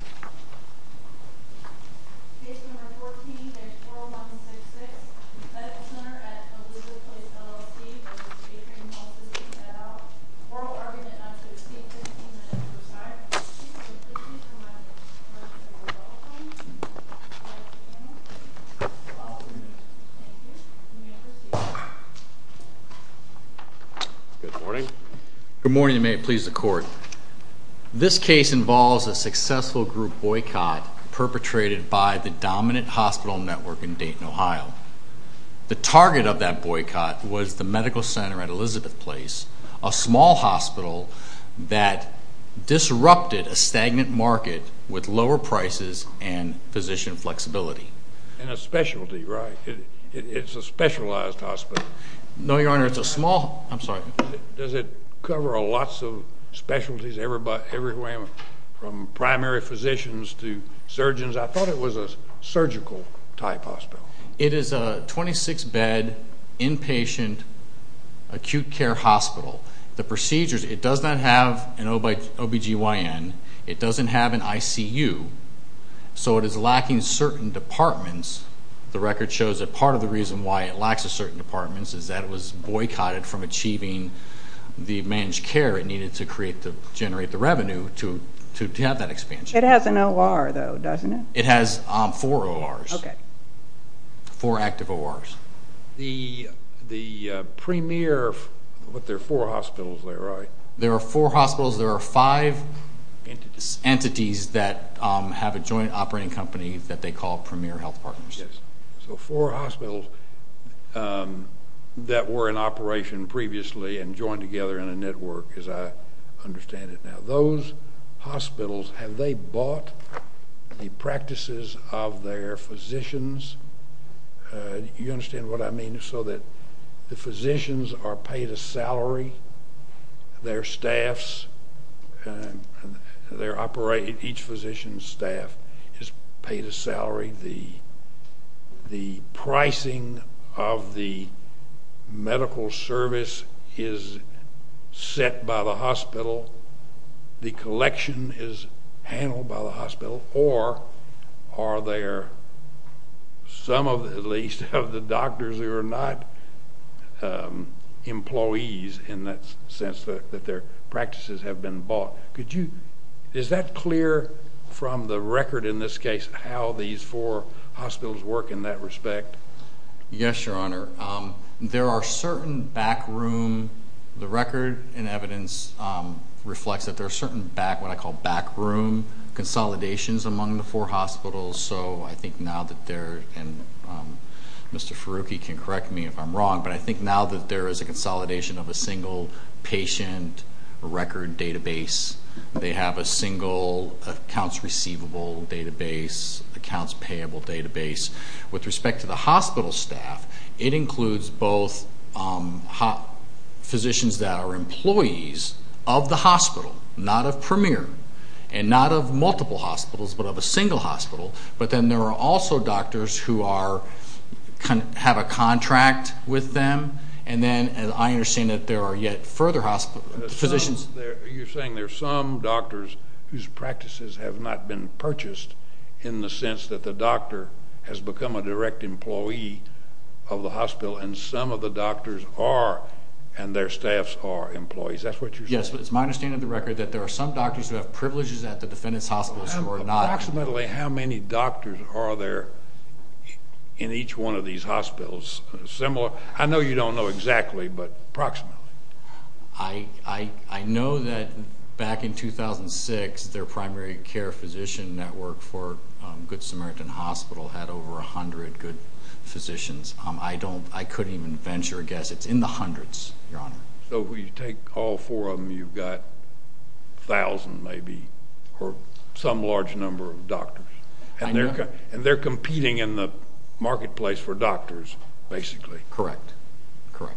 et al. Oral argument not to exceed 15 minutes per side. I would like to remind the commission of the rule of thumb. Thank you. You may proceed. Good morning. Good morning, and may it please the Court. in the past. There was a hospital group boycott perpetrated by the dominant hospital network in Dayton, Ohio. The target of that boycott was the medical center at Elizabeth Place, a small hospital that disrupted a stagnant market with lower prices and physician flexibility. And a specialty, right? It's a specialized hospital. No, Your Honor, it's a small hospital. I'm sorry. Does it cover lots of specialties everywhere from primary physicians to surgeons? I thought it was a surgical type hospital. It is a 26-bed inpatient acute care hospital. The procedures, it does not have an OBGYN. It doesn't have an ICU. So it is lacking certain departments. The record shows that part of the reason why it lacks certain departments is that it was boycotted from achieving the managed care it needed to generate the revenue to have that expansion. It has an OR, though, doesn't it? It has four ORs, four active ORs. The premier, but there are four hospitals there, right? There are four hospitals. There are five entities that have a joint operating company that they call Premier Health Partners. Yes. So four hospitals that were in operation previously and joined together in a network, as I understand it now. Those hospitals, have they bought the practices of their physicians? You understand what I mean? So that the physicians are paid a salary, their staffs, each physician's staff is paid a salary. The pricing of the medical service is set by the hospital. The collection is handled by the hospital. Or are there some, at least, of the doctors who are not employees in that sense that their practices have been bought? Is that clear from the record in this case how these four hospitals work in that respect? Yes, Your Honor. There are certain backroom, the record and evidence reflects that there are certain backroom consolidations among the four hospitals. So I think now that they're, and Mr. Farooqui can correct me if I'm wrong, but I think now that there is a consolidation of a single patient record database, they have a single accounts receivable database, accounts payable database. With respect to the hospital staff, it includes both physicians that are employees of the hospital, not of Premier, and not of multiple hospitals, but of a single hospital. But then there are also doctors who have a contract with them. And then I understand that there are yet further positions. You're saying there are some doctors whose practices have not been purchased in the sense that the doctor has become a direct employee of the hospital, and some of the doctors are and their staffs are employees. That's what you're saying? Yes, but it's my understanding of the record that there are some doctors who have privileges at the defendant's hospitals who are not. Approximately how many doctors are there in each one of these hospitals? I know you don't know exactly, but approximately. I know that back in 2006 their primary care physician network for Good Samaritan Hospital had over 100 good physicians. I couldn't even venture a guess. It's in the hundreds, Your Honor. So if you take all four of them, you've got a thousand, maybe, or some large number of doctors. And they're competing in the marketplace for doctors, basically. Correct, correct.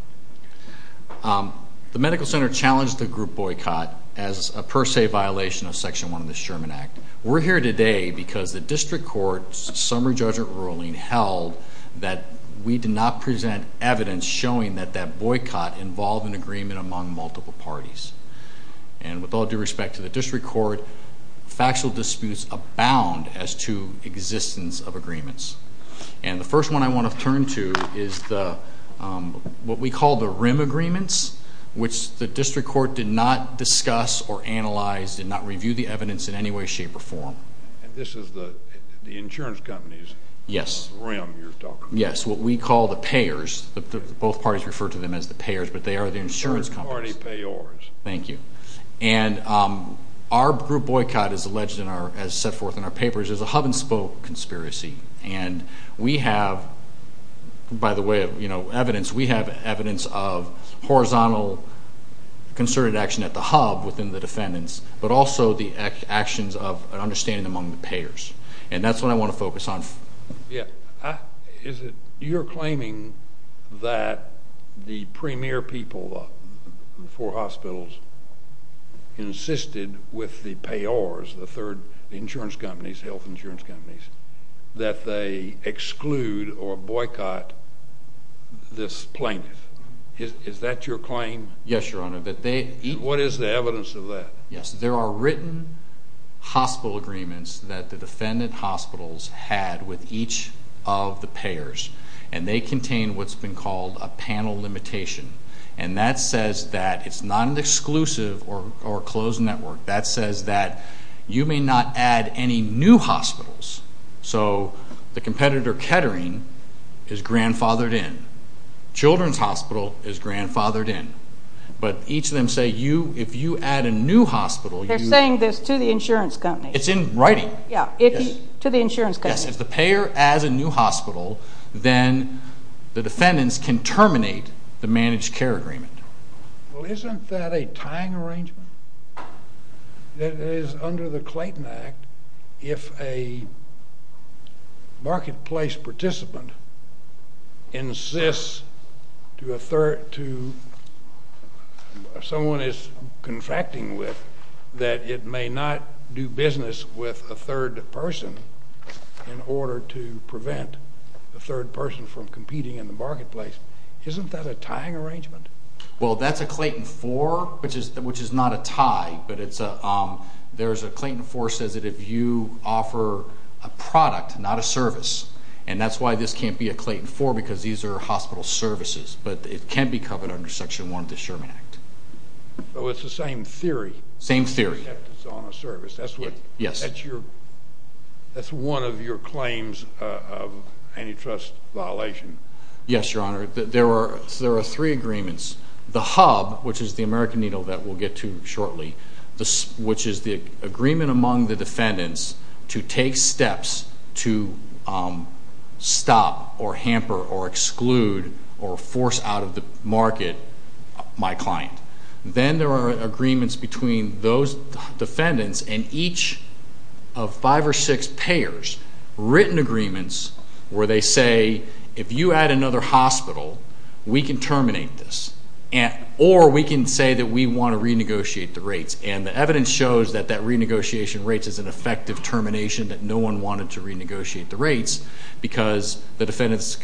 The medical center challenged the group boycott as a per se violation of Section 1 of the Sherman Act. We're here today because the district court's summary judgment ruling held that we did not present evidence showing that that boycott involved an agreement among multiple parties. And with all due respect to the district court, factual disputes abound as to existence of agreements. And the first one I want to turn to is what we call the RIM agreements, which the district court did not discuss or analyze, did not review the evidence in any way, shape, or form. And this is the insurance companies? Yes. The RIM, you're talking about. Yes, what we call the payers. Both parties refer to them as the payers, but they are the insurance companies. Third party payors. Thank you. And our group boycott, as set forth in our papers, is a hub and spoke conspiracy. And we have, by the way, evidence. We have evidence of horizontal concerted action at the hub within the defendants, but also the actions of an understanding among the payers. And that's what I want to focus on. Yeah. You're claiming that the premier people for hospitals insisted with the payors, the third insurance companies, health insurance companies, that they exclude or boycott this plaintiff. Is that your claim? Yes, Your Honor. What is the evidence of that? Yes, there are written hospital agreements that the defendant hospitals had with each of the payors, and they contain what's been called a panel limitation. And that says that it's not an exclusive or closed network. That says that you may not add any new hospitals. So the competitor, Kettering, is grandfathered in. Children's Hospital is grandfathered in. But each of them say if you add a new hospital. They're saying this to the insurance company. It's in writing. Yeah, to the insurance company. Yes, if the payer adds a new hospital, then the defendants can terminate the managed care agreement. Well, isn't that a tying arrangement? That is, under the Clayton Act, if a marketplace participant insists to someone he's contracting with that it may not do business with a third person in order to prevent the third person from competing in the marketplace, isn't that a tying arrangement? Well, that's a Clayton 4, which is not a tie. But there's a Clayton 4 that says that if you offer a product, not a service, and that's why this can't be a Clayton 4 because these are hospital services. But it can be covered under Section 1 of the Sherman Act. So it's the same theory? Same theory. The defendant is on a service. Yes. That's one of your claims of antitrust violation. Yes, Your Honor. There are three agreements. The HUB, which is the American Needle that we'll get to shortly, which is the agreement among the defendants to take steps to stop or hamper or exclude or force out of the market my client. Then there are agreements between those defendants and each of five or six payers, written agreements where they say, if you add another hospital, we can terminate this. Or we can say that we want to renegotiate the rates. And the evidence shows that that renegotiation rates is an effective termination, that no one wanted to renegotiate the rates because the defendants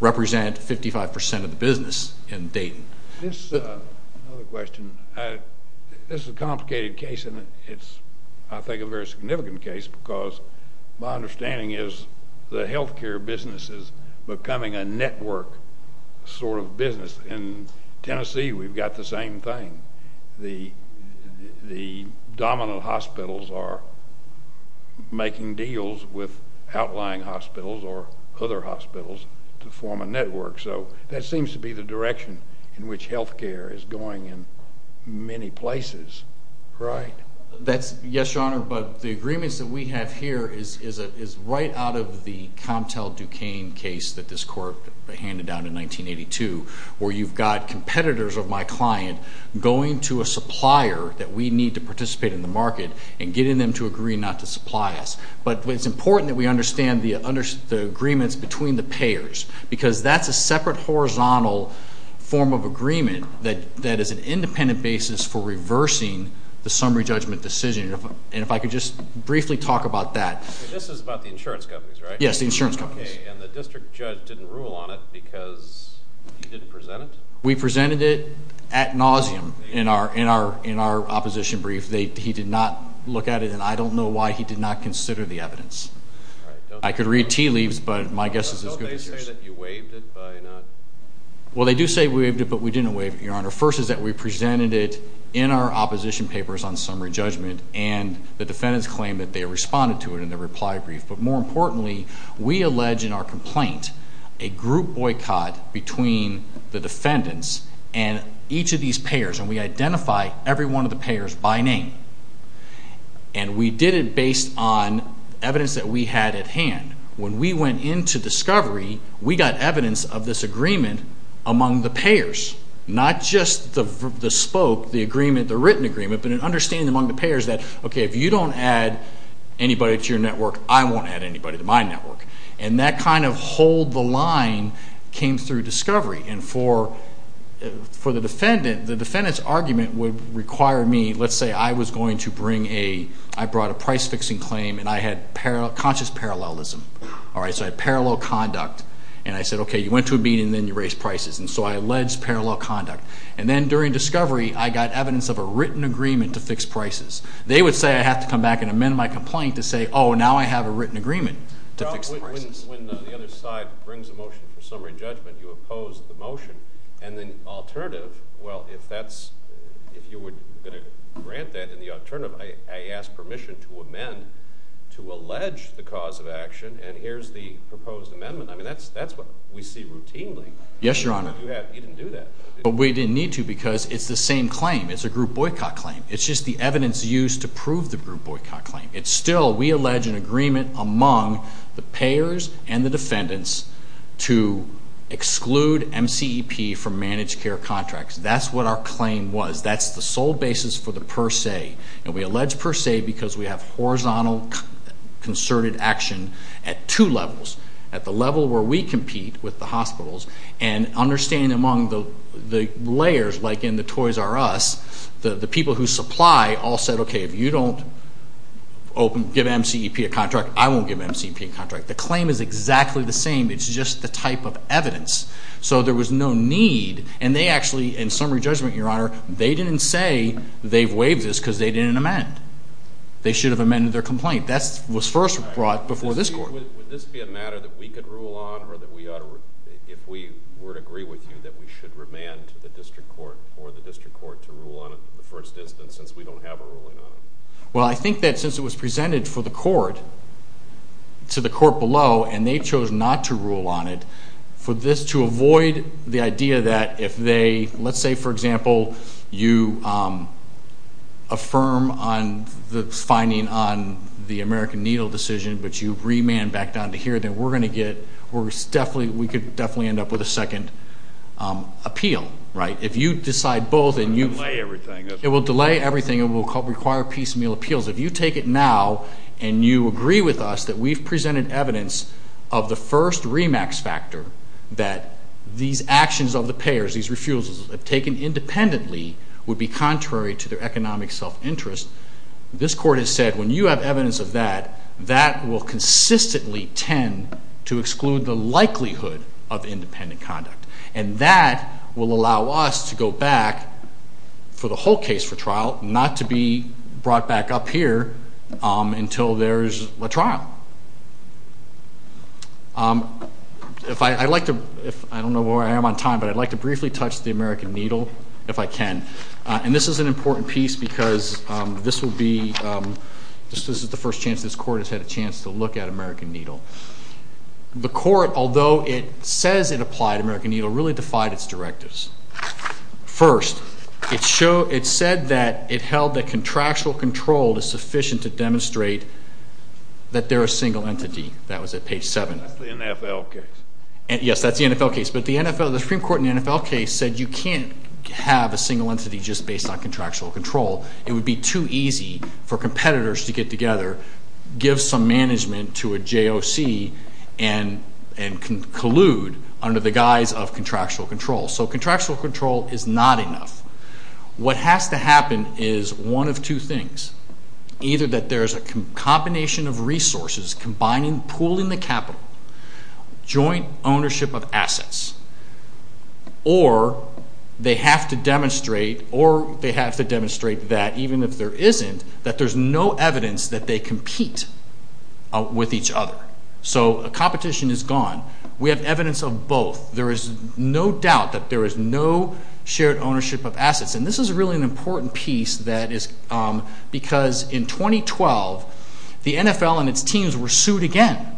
represent 55% of the business in Dayton. This is a complicated case. It's, I think, a very significant case because my understanding is the health care business is becoming a network sort of business. In Tennessee, we've got the same thing. The dominant hospitals are making deals with outlying hospitals or other hospitals to form a network. So that seems to be the direction in which health care is going in many places, right? Yes, Your Honor, but the agreements that we have here is right out of the Comtel-Duquesne case that this court handed down in 1982, where you've got competitors of my client going to a supplier that we need to participate in the market and getting them to agree not to supply us. But it's important that we understand the agreements between the payers because that's a separate horizontal form of agreement that is an independent basis for reversing the summary judgment decision. And if I could just briefly talk about that. This is about the insurance companies, right? Yes, the insurance companies. And the district judge didn't rule on it because he didn't present it? We presented it ad nauseum in our opposition brief. He did not look at it, and I don't know why he did not consider the evidence. All right. I could read tea leaves, but my guess is as good as his. Don't they say that you waived it by not? Well, they do say we waived it, but we didn't waive it, Your Honor. First is that we presented it in our opposition papers on summary judgment, and the defendants claimed that they responded to it in their reply brief. But more importantly, we allege in our complaint a group boycott between the defendants and each of these payers, and we identify every one of the payers by name. And we did it based on evidence that we had at hand. When we went into discovery, we got evidence of this agreement among the payers, not just the spoke, the agreement, the written agreement, but an understanding among the payers that, okay, if you don't add anybody to your network, I won't add anybody to my network. And that kind of hold the line came through discovery. And for the defendant, the defendant's argument would require me, let's say I was going to bring a, I brought a price-fixing claim, and I had conscious parallelism. All right, so I had parallel conduct. And I said, okay, you went to a meeting, and then you raised prices. And so I alleged parallel conduct. And then during discovery, I got evidence of a written agreement to fix prices. They would say I have to come back and amend my complaint to say, oh, now I have a written agreement to fix the prices. When the other side brings a motion for summary judgment, you oppose the motion. And then alternative, well, if that's, if you were going to grant that in the alternative, I ask permission to amend to allege the cause of action. And here's the proposed amendment. I mean, that's what we see routinely. Yes, Your Honor. You didn't do that. But we didn't need to because it's the same claim. It's a group boycott claim. It's just the evidence used to prove the group boycott claim. It's still, we allege an agreement among the payers and the defendants to exclude MCEP from managed care contracts. That's what our claim was. That's the sole basis for the per se. And we allege per se because we have horizontal concerted action at two levels. At the level where we compete with the hospitals, and understanding among the layers, like in the Toys R Us, the people who supply all said, okay, if you don't open, give MCEP a contract, I won't give MCEP a contract. The claim is exactly the same. It's just the type of evidence. So there was no need. And they actually, in summary judgment, Your Honor, they didn't say they waived this because they didn't amend. They should have amended their complaint. That was first brought before this court. Would this be a matter that we could rule on or that we ought to, if we were to agree with you, that we should remand to the district court for the district court to rule on the first instance since we don't have a ruling on it? Well, I think that since it was presented for the court, to the court below, and they chose not to rule on it, for this to avoid the idea that if they, let's say, for example, you affirm on the finding on the American Needle decision, but you remand back down to here, then we're going to get, we could definitely end up with a second appeal, right? If you decide both and you've. It will delay everything. It will delay everything. It will require piecemeal appeals. If you take it now and you agree with us that we've presented evidence of the first remax factor, that these actions of the payers, these refusals taken independently would be contrary to their economic self-interest, this court has said when you have evidence of that, that will consistently tend to exclude the likelihood of independent conduct, and that will allow us to go back for the whole case for trial, not to be brought back up here until there's a trial. If I, I'd like to, I don't know where I am on time, but I'd like to briefly touch the American Needle, if I can. And this is an important piece because this will be, this is the first chance this court has had a chance to look at American Needle. The court, although it says it applied American Needle, really defied its directives. First, it said that it held that contractual control is sufficient to demonstrate that they're a single entity. That was at page 7. That's the NFL case. Yes, that's the NFL case. But the NFL, the Supreme Court in the NFL case said you can't have a single entity just based on contractual control. It would be too easy for competitors to get together, give some management to a JOC, and collude under the guise of contractual control. So contractual control is not enough. What has to happen is one of two things. Either that there's a combination of resources combining, pooling the capital, joint ownership of assets, or they have to demonstrate, or they have to demonstrate that even if there isn't, that there's no evidence that they compete with each other. So competition is gone. We have evidence of both. There is no doubt that there is no shared ownership of assets. And this is really an important piece that is because in 2012, the NFL and its teams were sued again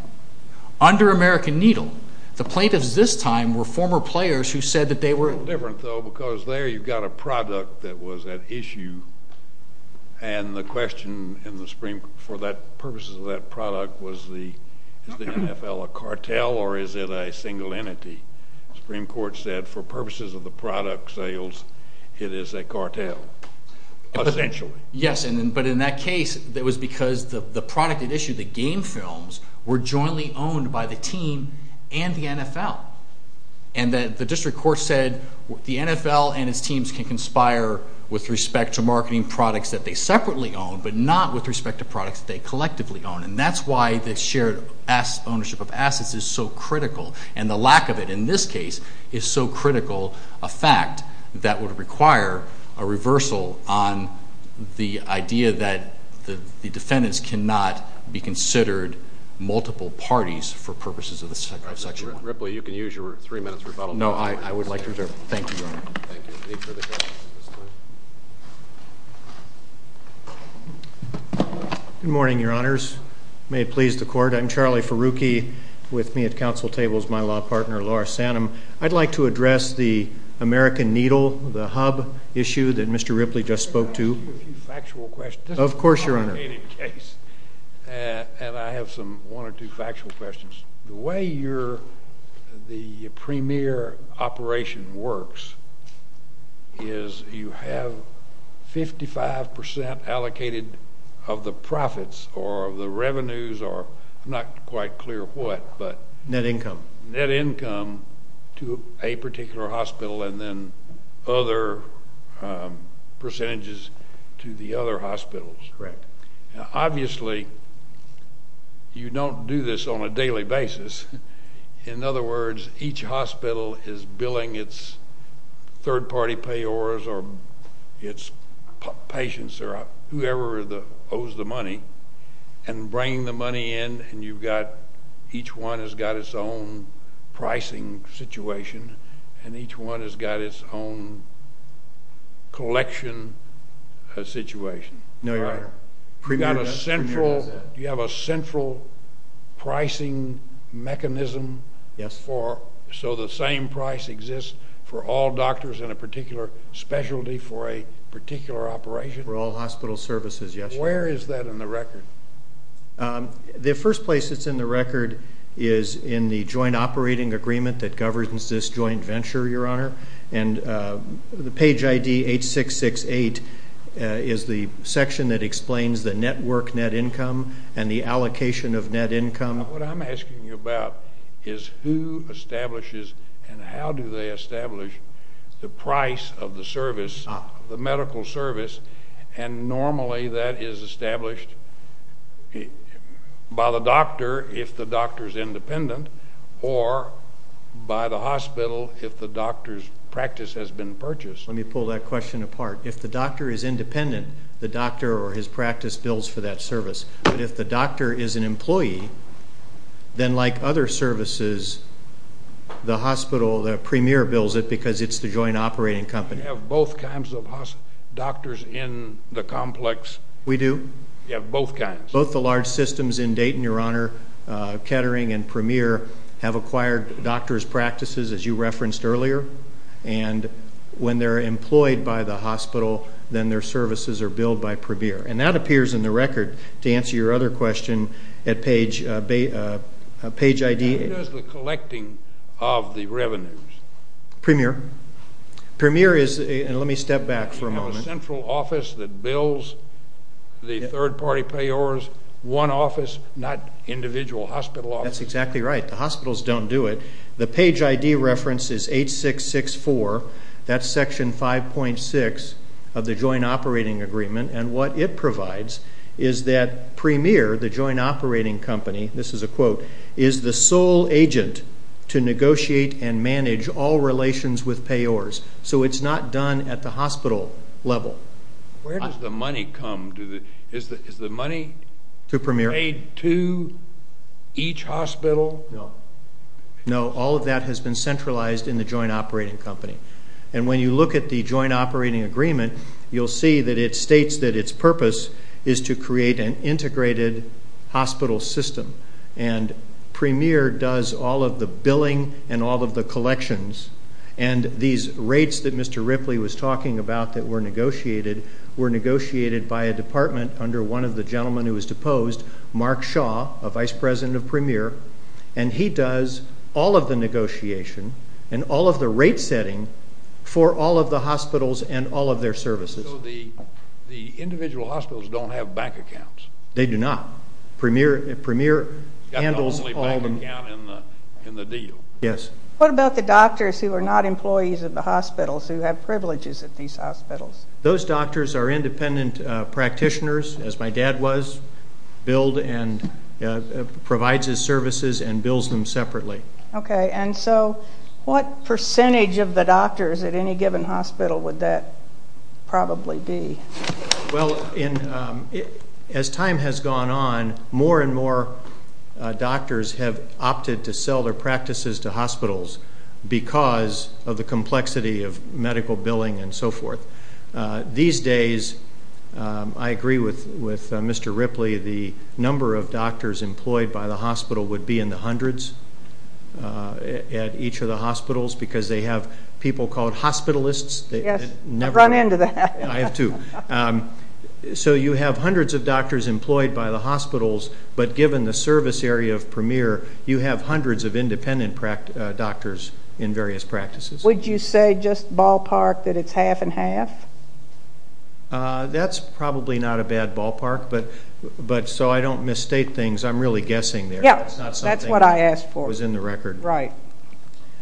under American Needle. The plaintiffs this time were former players who said that they were. It's a little different, though, because there you've got a product that was at issue, and the question in the Supreme Court for purposes of that product was is the NFL a cartel or is it a single entity? The Supreme Court said for purposes of the product sales, it is a cartel, essentially. Yes, but in that case it was because the product at issue, the game films, were jointly owned by the team and the NFL. And the district court said the NFL and its teams can conspire with respect to marketing products that they separately own but not with respect to products they collectively own, and that's why the shared ownership of assets is so critical. And the lack of it in this case is so critical a fact that would require a reversal on the idea that the defendants cannot be considered multiple parties for purposes of Section 1. Mr. Ripley, you can use your three minutes rebuttal. No, I would like to reserve it. Thank you, Your Honor. Thank you. Any further questions at this time? Good morning, Your Honors. May it please the Court. I'm Charlie Ferrucchi with me at Council Tables, my law partner, Laura Sanum. I'd like to address the American Needle, the hub issue that Mr. Ripley just spoke to. Can I ask you a few factual questions? Of course, Your Honor. This is a complicated case, and I have one or two factual questions. The way the premier operation works is you have 55% allocated of the profits or the revenues or I'm not quite clear what, but. Net income. Net income to a particular hospital and then other percentages to the other hospitals. Correct. Obviously, you don't do this on a daily basis. In other words, each hospital is billing its third-party payors or its patients or whoever owes the money and bringing the money in, and you've got each one has got its own pricing situation, and each one has got its own collection situation. No, Your Honor. Do you have a central pricing mechanism so the same price exists for all doctors in a particular specialty for a particular operation? For all hospital services, yes, Your Honor. Where is that in the record? The first place it's in the record is in the joint operating agreement that governs this joint venture, Your Honor, and the page ID 8668 is the section that explains the network net income and the allocation of net income. What I'm asking you about is who establishes and how do they establish the price of the service, the medical service, and normally that is established by the doctor if the doctor is independent or by the hospital if the doctor's practice has been purchased. Let me pull that question apart. If the doctor is independent, the doctor or his practice bills for that service, but if the doctor is an employee, then like other services, the hospital, the premier bills it because it's the joint operating company. Do you have both kinds of doctors in the complex? We do. You have both kinds? Both the large systems in Dayton, Your Honor, Kettering and Premier have acquired doctor's practices as you referenced earlier, and when they're employed by the hospital, then their services are billed by Premier, and that appears in the record to answer your other question at page ID. How does the collecting of the revenues? Premier? Premier is, and let me step back for a moment. You have a central office that bills the third-party payors, one office, not individual hospital offices. That's exactly right. The hospitals don't do it. The page ID reference is 8664. That's section 5.6 of the joint operating agreement, and what it provides is that Premier, the joint operating company, this is a quote, is the sole agent to negotiate and manage all relations with payors, so it's not done at the hospital level. Where does the money come? Is the money paid to each hospital? No. No, all of that has been centralized in the joint operating company, and when you look at the joint operating agreement, you'll see that it states that its purpose is to create an integrated hospital system, and Premier does all of the billing and all of the collections, and these rates that Mr. Ripley was talking about that were negotiated were negotiated by a department under one of the gentlemen who was deposed, Mark Shaw, a vice president of Premier, and he does all of the negotiation and all of the rate setting for all of the hospitals and all of their services. So the individual hospitals don't have bank accounts. They do not. Premier handles all of them. He's got the only bank account in the deal. Yes. What about the doctors who are not employees of the hospitals, who have privileges at these hospitals? Those doctors are independent practitioners, as my dad was, billed and provides his services and bills them separately. Okay, and so what percentage of the doctors at any given hospital would that probably be? Well, as time has gone on, more and more doctors have opted to sell their practices to hospitals because of the complexity of medical billing and so forth. These days, I agree with Mr. Ripley, the number of doctors employed by the hospital would be in the hundreds at each of the hospitals because they have people called hospitalists. Yes, I've run into that. I have too. So you have hundreds of doctors employed by the hospitals, but given the service area of Premier, you have hundreds of independent doctors in various practices. Would you say just ballpark that it's half and half? That's probably not a bad ballpark, but so I don't misstate things. I'm really guessing there. Yes, that's what I asked for. It was in the record. Right.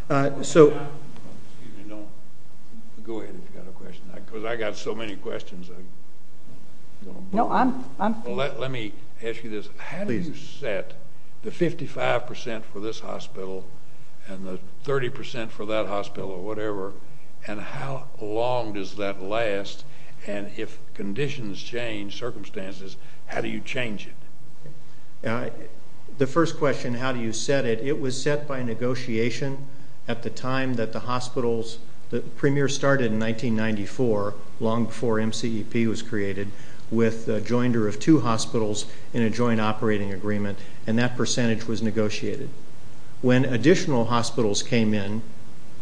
Excuse me. Go ahead if you've got a question. Because I've got so many questions. No, I'm fine. Let me ask you this. How do you set the 55% for this hospital and the 30% for that hospital or whatever, and how long does that last, and if conditions change, circumstances, how do you change it? The first question, how do you set it, it was set by negotiation at the time that the hospitals, Premier started in 1994, long before MCEP was created, with the jointer of two hospitals in a joint operating agreement, and that percentage was negotiated. When additional hospitals came in,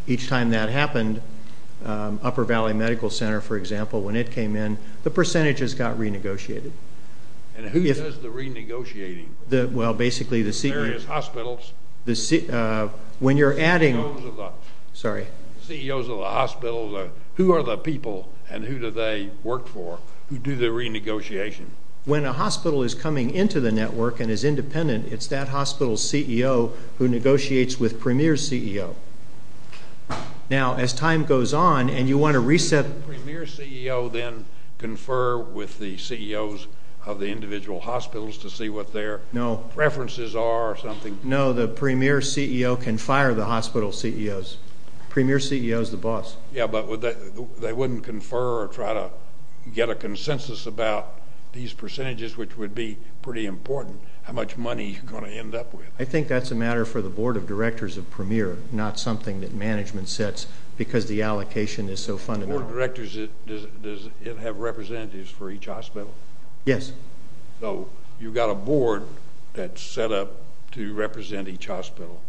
each time that happened, Upper Valley Medical Center, for example, when it came in, the percentages got renegotiated. And who does the renegotiating? The various hospitals. When you're adding the CEOs of the hospitals, who are the people and who do they work for who do the renegotiation? When a hospital is coming into the network and is independent, it's that hospital's CEO who negotiates with Premier's CEO. Now, as time goes on, and you want to reset it. Does Premier's CEO then confer with the CEOs of the individual hospitals to see what their preferences are or something? No, the Premier's CEO can fire the hospital CEOs. Premier's CEO is the boss. Yeah, but they wouldn't confer or try to get a consensus about these percentages, which would be pretty important, how much money you're going to end up with. I think that's a matter for the Board of Directors of Premier, not something that management sets because the allocation is so fundamental. Board of Directors, does it have representatives for each hospital? Yes. So you've got a board that's set up to represent each hospital.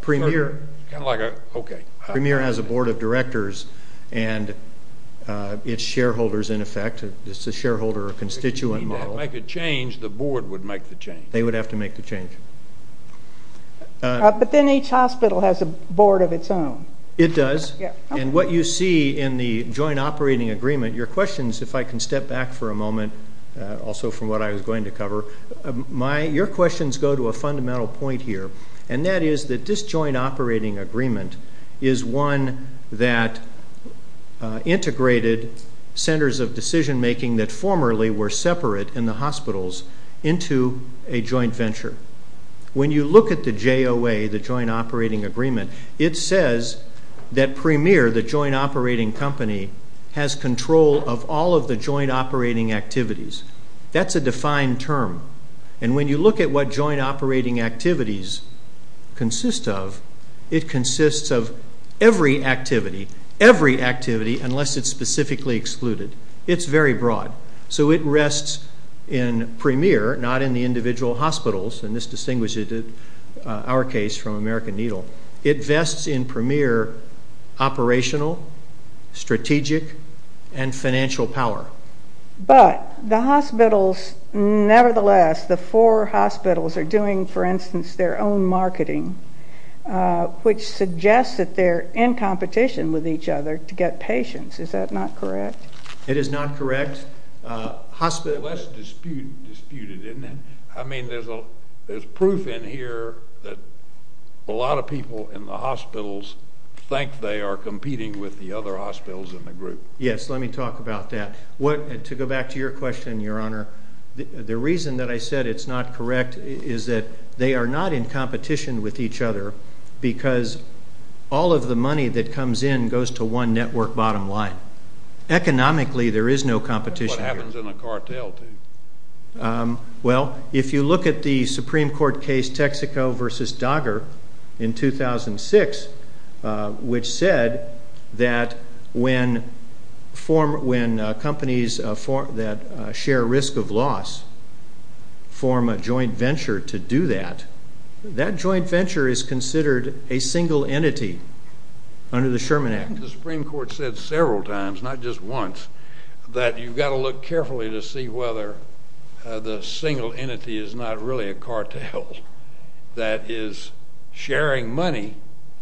Premier has a Board of Directors, and it's shareholders in effect. It's a shareholder or constituent model. If you need to make a change, the board would make the change. They would have to make the change. But then each hospital has a board of its own. It does. And what you see in the joint operating agreement, your questions, if I can step back for a moment, also from what I was going to cover, your questions go to a fundamental point here, and that is that this joint operating agreement is one that integrated centers of decision-making that formerly were separate in the hospitals into a joint venture. When you look at the JOA, the joint operating agreement, it says that Premier, the joint operating company, has control of all of the joint operating activities. That's a defined term. And when you look at what joint operating activities consist of, it consists of every activity, every activity unless it's specifically excluded. It's very broad. So it rests in Premier, not in the individual hospitals, and this distinguishes our case from American Needle. It vests in Premier operational, strategic, and financial power. But the hospitals, nevertheless, the four hospitals are doing, for instance, their own marketing, which suggests that they're in competition with each other to get patients. Is that not correct? It is not correct. Less disputed, isn't it? I mean, there's proof in here that a lot of people in the hospitals think they are competing with the other hospitals in the group. Yes, let me talk about that. To go back to your question, Your Honor, the reason that I said it's not correct is that they are not in competition with each other because all of the money that comes in goes to one network bottom line. Economically, there is no competition here. That's what happens in a cartel, too. Well, if you look at the Supreme Court case Texaco v. Dogger in 2006, which said that when companies that share risk of loss form a joint venture to do that, that joint venture is considered a single entity under the Sherman Act. The Supreme Court said several times, not just once, that you've got to look carefully to see whether the single entity is not really a cartel that is sharing money,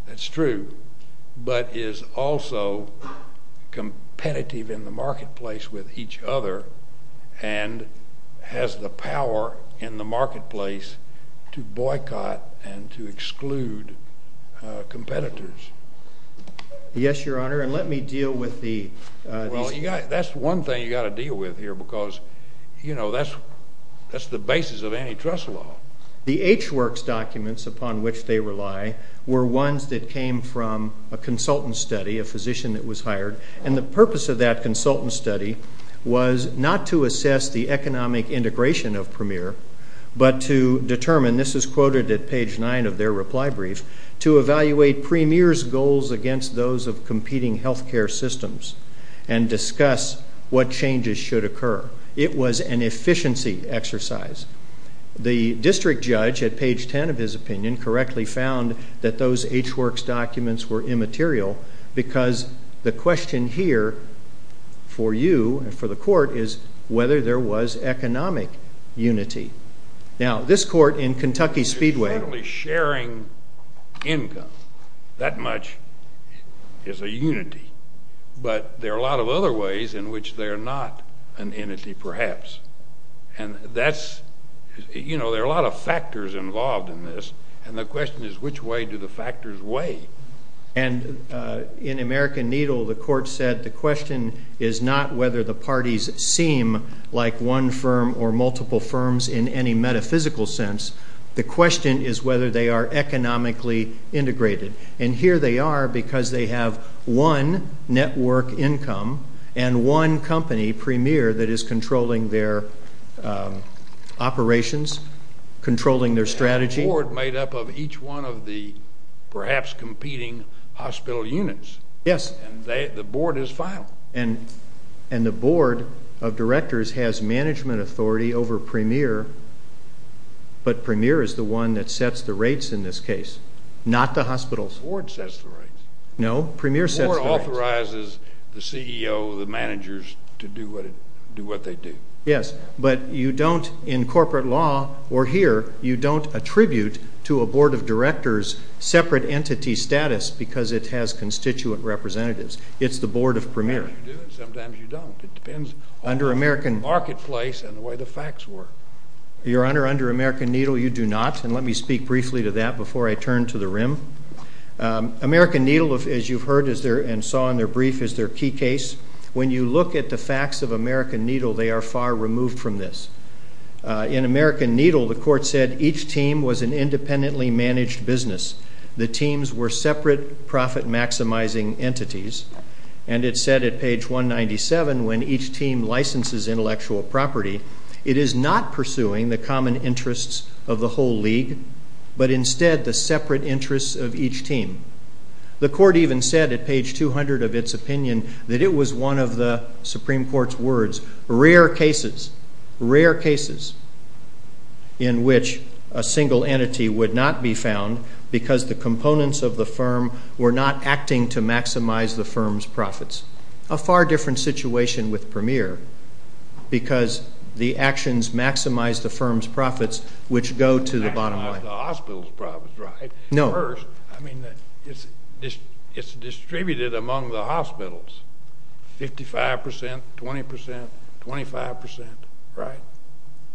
that's true, but is also competitive in the marketplace with each other and has the power in the marketplace to boycott and to exclude competitors. Yes, Your Honor, and let me deal with the... Well, that's one thing you've got to deal with here because, you know, that's the basis of antitrust law. The H-Works documents upon which they rely were ones that came from a consultant study, a physician that was hired, and the purpose of that consultant study was not to assess the economic integration of Premier but to determine, this is quoted at page 9 of their reply brief, to evaluate Premier's goals against those of competing healthcare systems and discuss what changes should occur. It was an efficiency exercise. The district judge, at page 10 of his opinion, correctly found that those H-Works documents were immaterial because the question here for you and for the court is whether there was economic unity. Now, this court in Kentucky Speedway... That much is a unity. But there are a lot of other ways in which they are not an entity perhaps, and that's, you know, there are a lot of factors involved in this, and the question is which way do the factors weigh? And in American Needle, the court said the question is not whether the parties seem like one firm or multiple firms in any metaphysical sense. The question is whether they are economically integrated, and here they are because they have one network income and one company, Premier, that is controlling their operations, controlling their strategy. They have a board made up of each one of the perhaps competing hospital units. Yes. And the board is final. And the board of directors has management authority over Premier, but Premier is the one that sets the rates in this case, not the hospitals. The board sets the rates. No, Premier sets the rates. The board authorizes the CEO, the managers, to do what they do. Yes, but you don't in corporate law or here, you don't attribute to a board of directors separate entity status because it has constituent representatives. It's the board of Premier. Sometimes you do and sometimes you don't. It depends on the marketplace and the way the facts work. Your Honor, under American Needle you do not, and let me speak briefly to that before I turn to the rim. American Needle, as you've heard and saw in their brief, is their key case. When you look at the facts of American Needle, they are far removed from this. In American Needle, the court said each team was an independently managed business. The teams were separate profit-maximizing entities, and it said at page 197 when each team licenses intellectual property, it is not pursuing the common interests of the whole league but instead the separate interests of each team. The court even said at page 200 of its opinion that it was one of the Supreme Court's words, rare cases, rare cases in which a single entity would not be found because the components of the firm were not acting to maximize the firm's profits. A far different situation with Premier because the actions maximize the firm's profits, which go to the bottom line. Maximize the hospital's profits, right? No. First, I mean, it's distributed among the hospitals, 55%, 20%, 25%, right?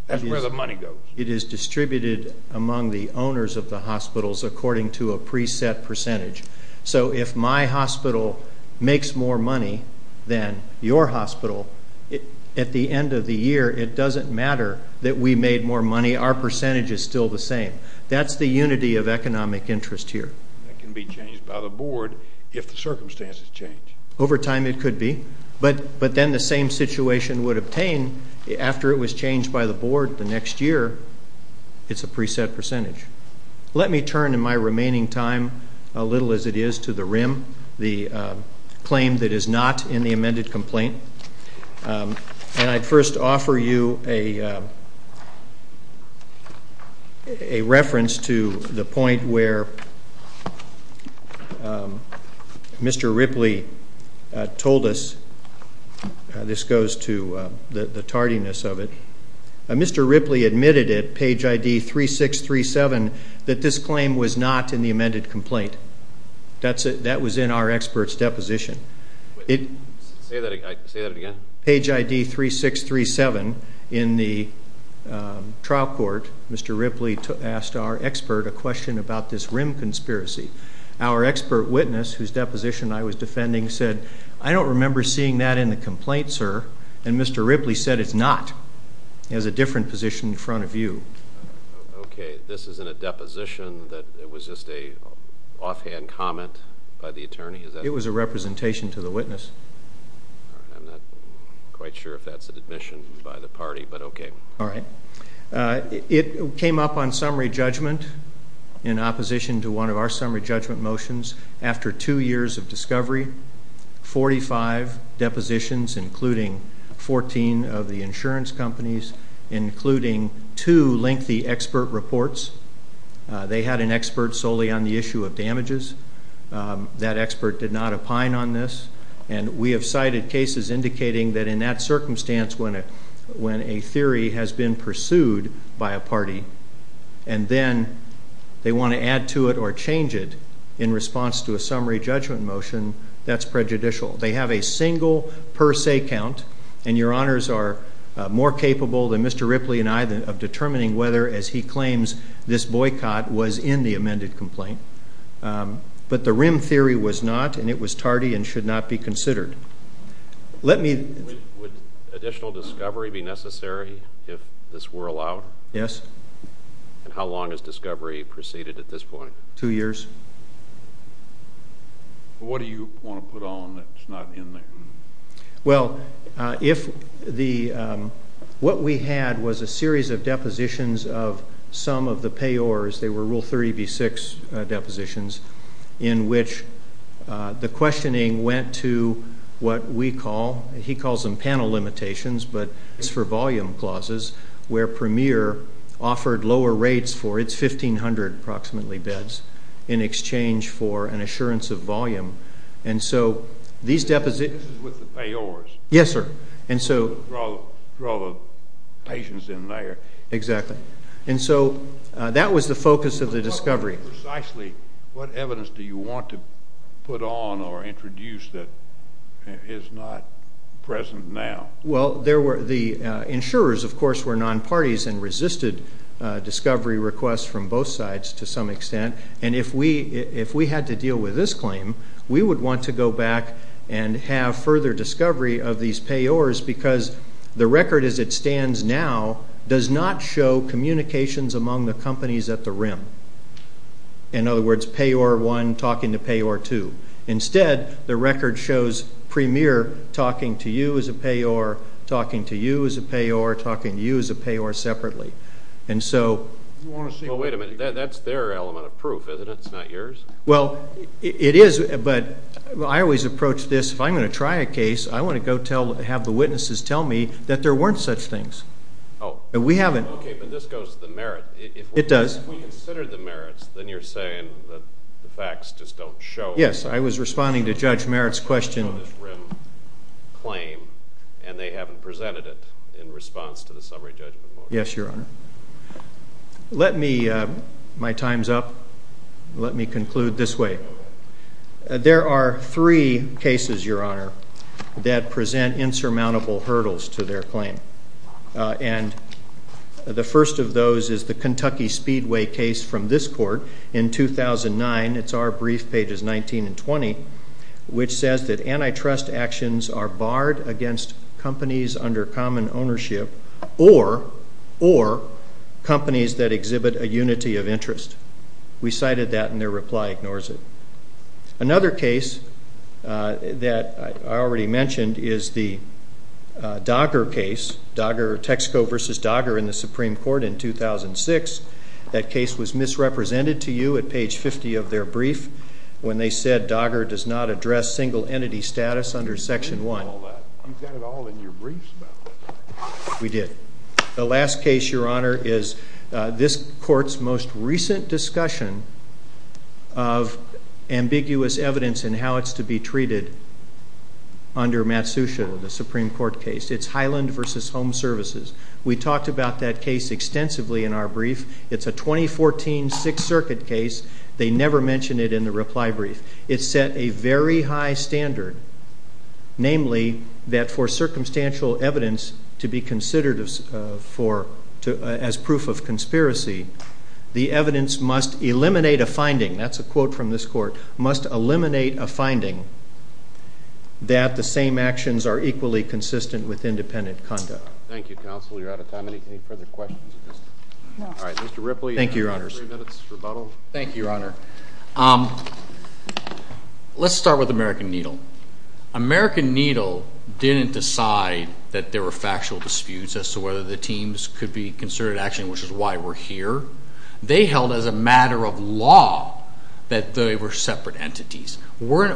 That's where the money goes. It is distributed among the owners of the hospitals according to a preset percentage. So if my hospital makes more money than your hospital, at the end of the year it doesn't matter that we made more money. Our percentage is still the same. That's the unity of economic interest here. That can be changed by the board if the circumstances change. Over time it could be. But then the same situation would obtain after it was changed by the board the next year. It's a preset percentage. Let me turn in my remaining time, a little as it is, to the RIM, the claim that is not in the amended complaint. And I'd first offer you a reference to the point where Mr. Ripley told us. This goes to the tardiness of it. Mr. Ripley admitted at page ID 3637 that this claim was not in the amended complaint. That was in our expert's deposition. Say that again? Page ID 3637 in the trial court, Mr. Ripley asked our expert a question about this RIM conspiracy. Our expert witness, whose deposition I was defending, said, I don't remember seeing that in the complaint, sir. And Mr. Ripley said it's not. He has a different position in front of you. Okay. This is in a deposition that was just an offhand comment by the attorney? It was a representation to the witness. I'm not quite sure if that's an admission by the party, but okay. All right. It came up on summary judgment in opposition to one of our summary judgment motions. After two years of discovery, 45 depositions, including 14 of the insurance companies, including two lengthy expert reports, they had an expert solely on the issue of damages. That expert did not opine on this. And we have cited cases indicating that in that circumstance when a theory has been pursued by a party and then they want to add to it or change it in response to a summary judgment motion, that's prejudicial. They have a single per se count, and your honors are more capable than Mr. Ripley and I of determining whether, as he claims, this boycott was in the amended complaint. But the rim theory was not, and it was tardy and should not be considered. Would additional discovery be necessary if this were allowed? Yes. And how long has discovery proceeded at this point? Two years. What do you want to put on that's not in there? Well, what we had was a series of depositions of some of the payors. They were Rule 30b-6 depositions in which the questioning went to what we call, he calls them panel limitations, but it's for volume clauses where Premier offered lower rates for its 1,500 approximately beds in exchange for an assurance of volume. And so these depositions ---- This is with the payors. Yes, sir. And so ---- For all the patients in there. Exactly. And so that was the focus of the discovery. Precisely, what evidence do you want to put on or introduce that is not present now? Well, the insurers, of course, were nonparties and resisted discovery requests from both sides to some extent. And if we had to deal with this claim, we would want to go back and have further discovery of these payors because the record as it stands now does not show communications among the companies at the rim. In other words, payor 1 talking to payor 2. Instead, the record shows Premier talking to you as a payor, talking to you as a payor, talking to you as a payor separately. And so ---- Well, wait a minute. That's their element of proof, isn't it? It's not yours? Well, it is, but I always approach this, if I'm going to try a case, I want to have the witnesses tell me that there weren't such things. Oh. We haven't. Okay, but this goes to the merit. It does. If we consider the merits, then you're saying that the facts just don't show. Yes. I was responding to Judge Merritt's question. On this rim claim, and they haven't presented it in response to the summary judgment. Yes, Your Honor. Let me, my time's up. Let me conclude this way. There are three cases, Your Honor, that present insurmountable hurdles to their claim. And the first of those is the Kentucky Speedway case from this court in 2009. It's our brief, pages 19 and 20, which says that antitrust actions are barred against companies under common ownership or companies that exhibit a unity of interest. We cited that, and their reply ignores it. Another case that I already mentioned is the Dogger case, Texaco v. Dogger in the Supreme Court in 2006. That case was misrepresented to you at page 50 of their brief when they said Dogger does not address single entity status under Section 1. You did all that. You've got it all in your briefs about that. We did. The last case, Your Honor, is this court's most recent discussion of ambiguous evidence in how it's to be treated under Matsusha, the Supreme Court case. It's Highland v. Home Services. We talked about that case extensively in our brief. It's a 2014 Sixth Circuit case. They never mention it in the reply brief. It set a very high standard, namely that for circumstantial evidence to be considered as proof of conspiracy, the evidence must eliminate a finding. That's a quote from this court, must eliminate a finding that the same actions are equally consistent with independent conduct. Thank you, Counsel. You're out of time. Any further questions? No. All right, Mr. Ripley, you have three minutes to rebuttal. Thank you, Your Honor. Let's start with American Needle. American Needle didn't decide that there were factual disputes as to whether the teams could be considered action, which is why we're here. They held as a matter of law that they were separate entities. We're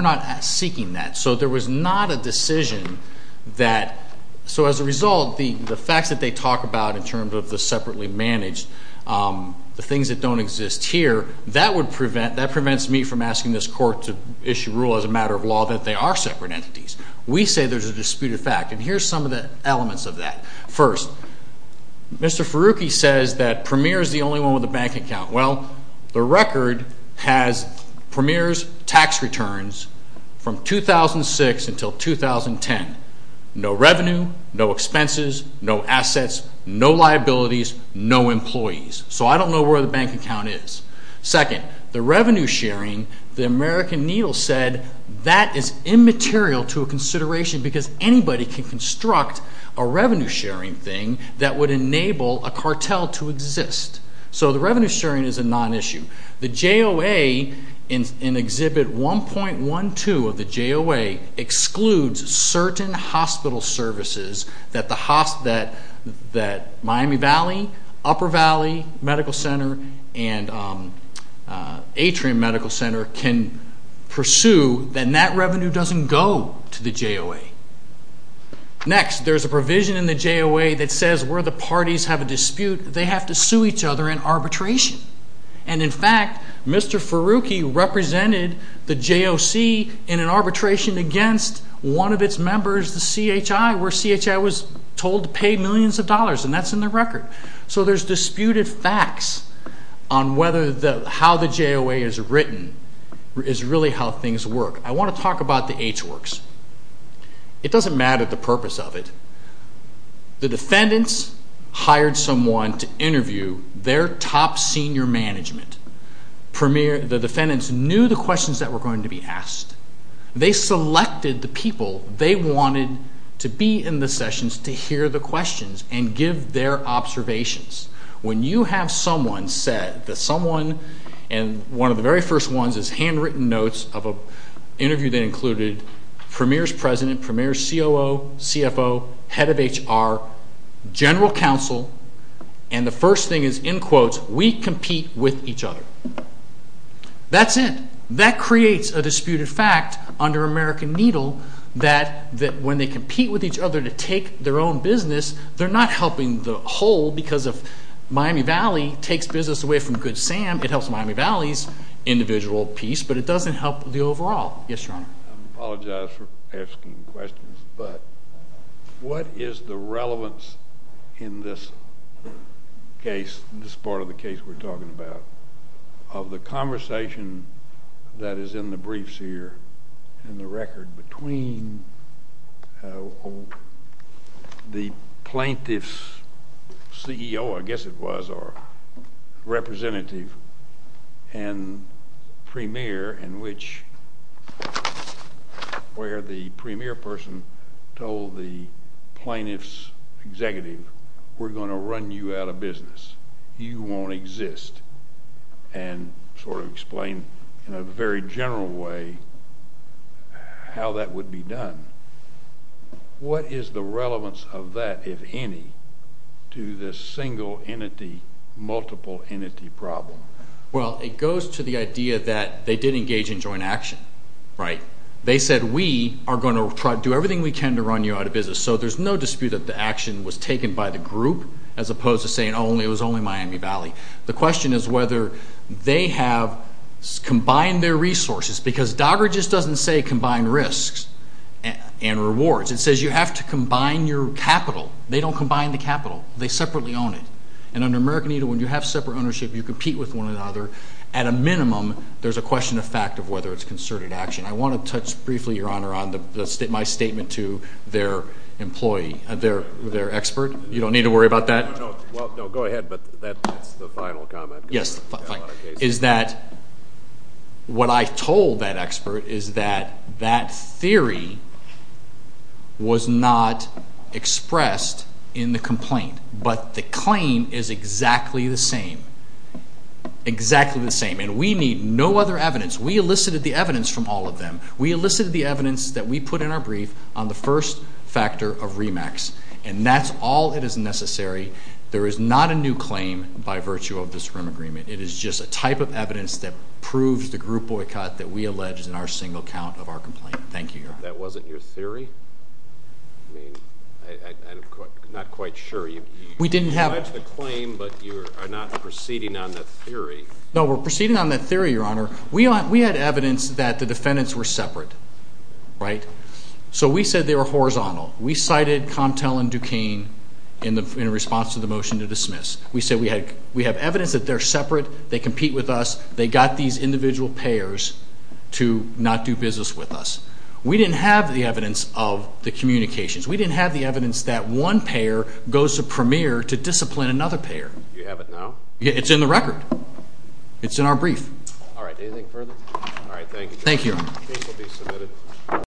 not seeking that. So there was not a decision that so as a result, the facts that they talk about in terms of the separately managed, the things that don't exist here, that prevents me from asking this court to issue rule as a matter of law that they are separate entities. We say there's a disputed fact, and here's some of the elements of that. First, Mr. Farooqui says that Premier is the only one with a bank account. Well, the record has Premier's tax returns from 2006 until 2010. No revenue, no expenses, no assets, no liabilities, no employees. So I don't know where the bank account is. Second, the revenue sharing, the American Needle said that is immaterial to a consideration because anybody can construct a revenue sharing thing that would enable a cartel to exist. So the revenue sharing is a non-issue. The JOA in Exhibit 1.12 of the JOA excludes certain hospital services that Miami Valley, Upper Valley Medical Center, and Atrium Medical Center can pursue. Then that revenue doesn't go to the JOA. Next, there's a provision in the JOA that says where the parties have a dispute, they have to sue each other in arbitration. And, in fact, Mr. Farooqui represented the JOC in an arbitration against one of its members, the CHI, where CHI was told to pay millions of dollars, and that's in the record. So there's disputed facts on how the JOA is written is really how things work. I want to talk about the H works. It doesn't matter the purpose of it. The defendants hired someone to interview their top senior management. The defendants knew the questions that were going to be asked. They selected the people they wanted to be in the sessions to hear the questions and give their observations. When you have someone said that someone, and one of the very first ones is handwritten notes of an interview that included premier's president, premier's COO, CFO, head of HR, general counsel, and the first thing is, in quotes, we compete with each other. That's it. That creates a disputed fact under American Needle that when they compete with each other to take their own business, they're not helping the whole because if Miami Valley takes business away from Good Sam, it helps Miami Valley's individual piece, but it doesn't help the overall. Yes, Your Honor. I apologize for asking questions, but what is the relevance in this case, this part of the case we're talking about, of the conversation that is in the briefs here and the record between the plaintiff's CEO, I guess it was, or representative and premier in which, where the premier person told the plaintiff's executive, we're going to run you out of business. You won't exist, and sort of explain in a very general way how that would be done. What is the relevance of that, if any, to this single entity, multiple entity problem? Well, it goes to the idea that they did engage in joint action, right? They said we are going to do everything we can to run you out of business, so there's no dispute that the action was taken by the group as opposed to saying it was only Miami Valley. The question is whether they have combined their resources because DOGGR just doesn't say combined risks and rewards. It says you have to combine your capital. They don't combine the capital. They separately own it. And under American Eagle, when you have separate ownership, you compete with one another. At a minimum, there's a question of fact of whether it's concerted action. I want to touch briefly, Your Honor, on my statement to their employee, their expert. You don't need to worry about that. No, go ahead, but that's the final comment. Yes, is that what I told that expert is that that theory was not expressed in the complaint, but the claim is exactly the same, exactly the same, and we need no other evidence. We elicited the evidence from all of them. We elicited the evidence that we put in our brief on the first factor of REMAX, and that's all that is necessary. There is not a new claim by virtue of this agreement. It is just a type of evidence that proves the group boycott that we alleged in our single count of our complaint. Thank you, Your Honor. That wasn't your theory? I mean, I'm not quite sure. You alleged the claim, but you are not proceeding on that theory. No, we're proceeding on that theory, Your Honor. We had evidence that the defendants were separate, right? So we said they were horizontal. We cited Comtel and Duquesne in response to the motion to dismiss. We said we have evidence that they're separate. They compete with us. They got these individual payers to not do business with us. We didn't have the evidence of the communications. We didn't have the evidence that one payer goes to Premier to discipline another payer. You have it now? It's in the record. It's in our brief. All right, anything further? All right, thank you. Thank you, Your Honor. The case will be submitted.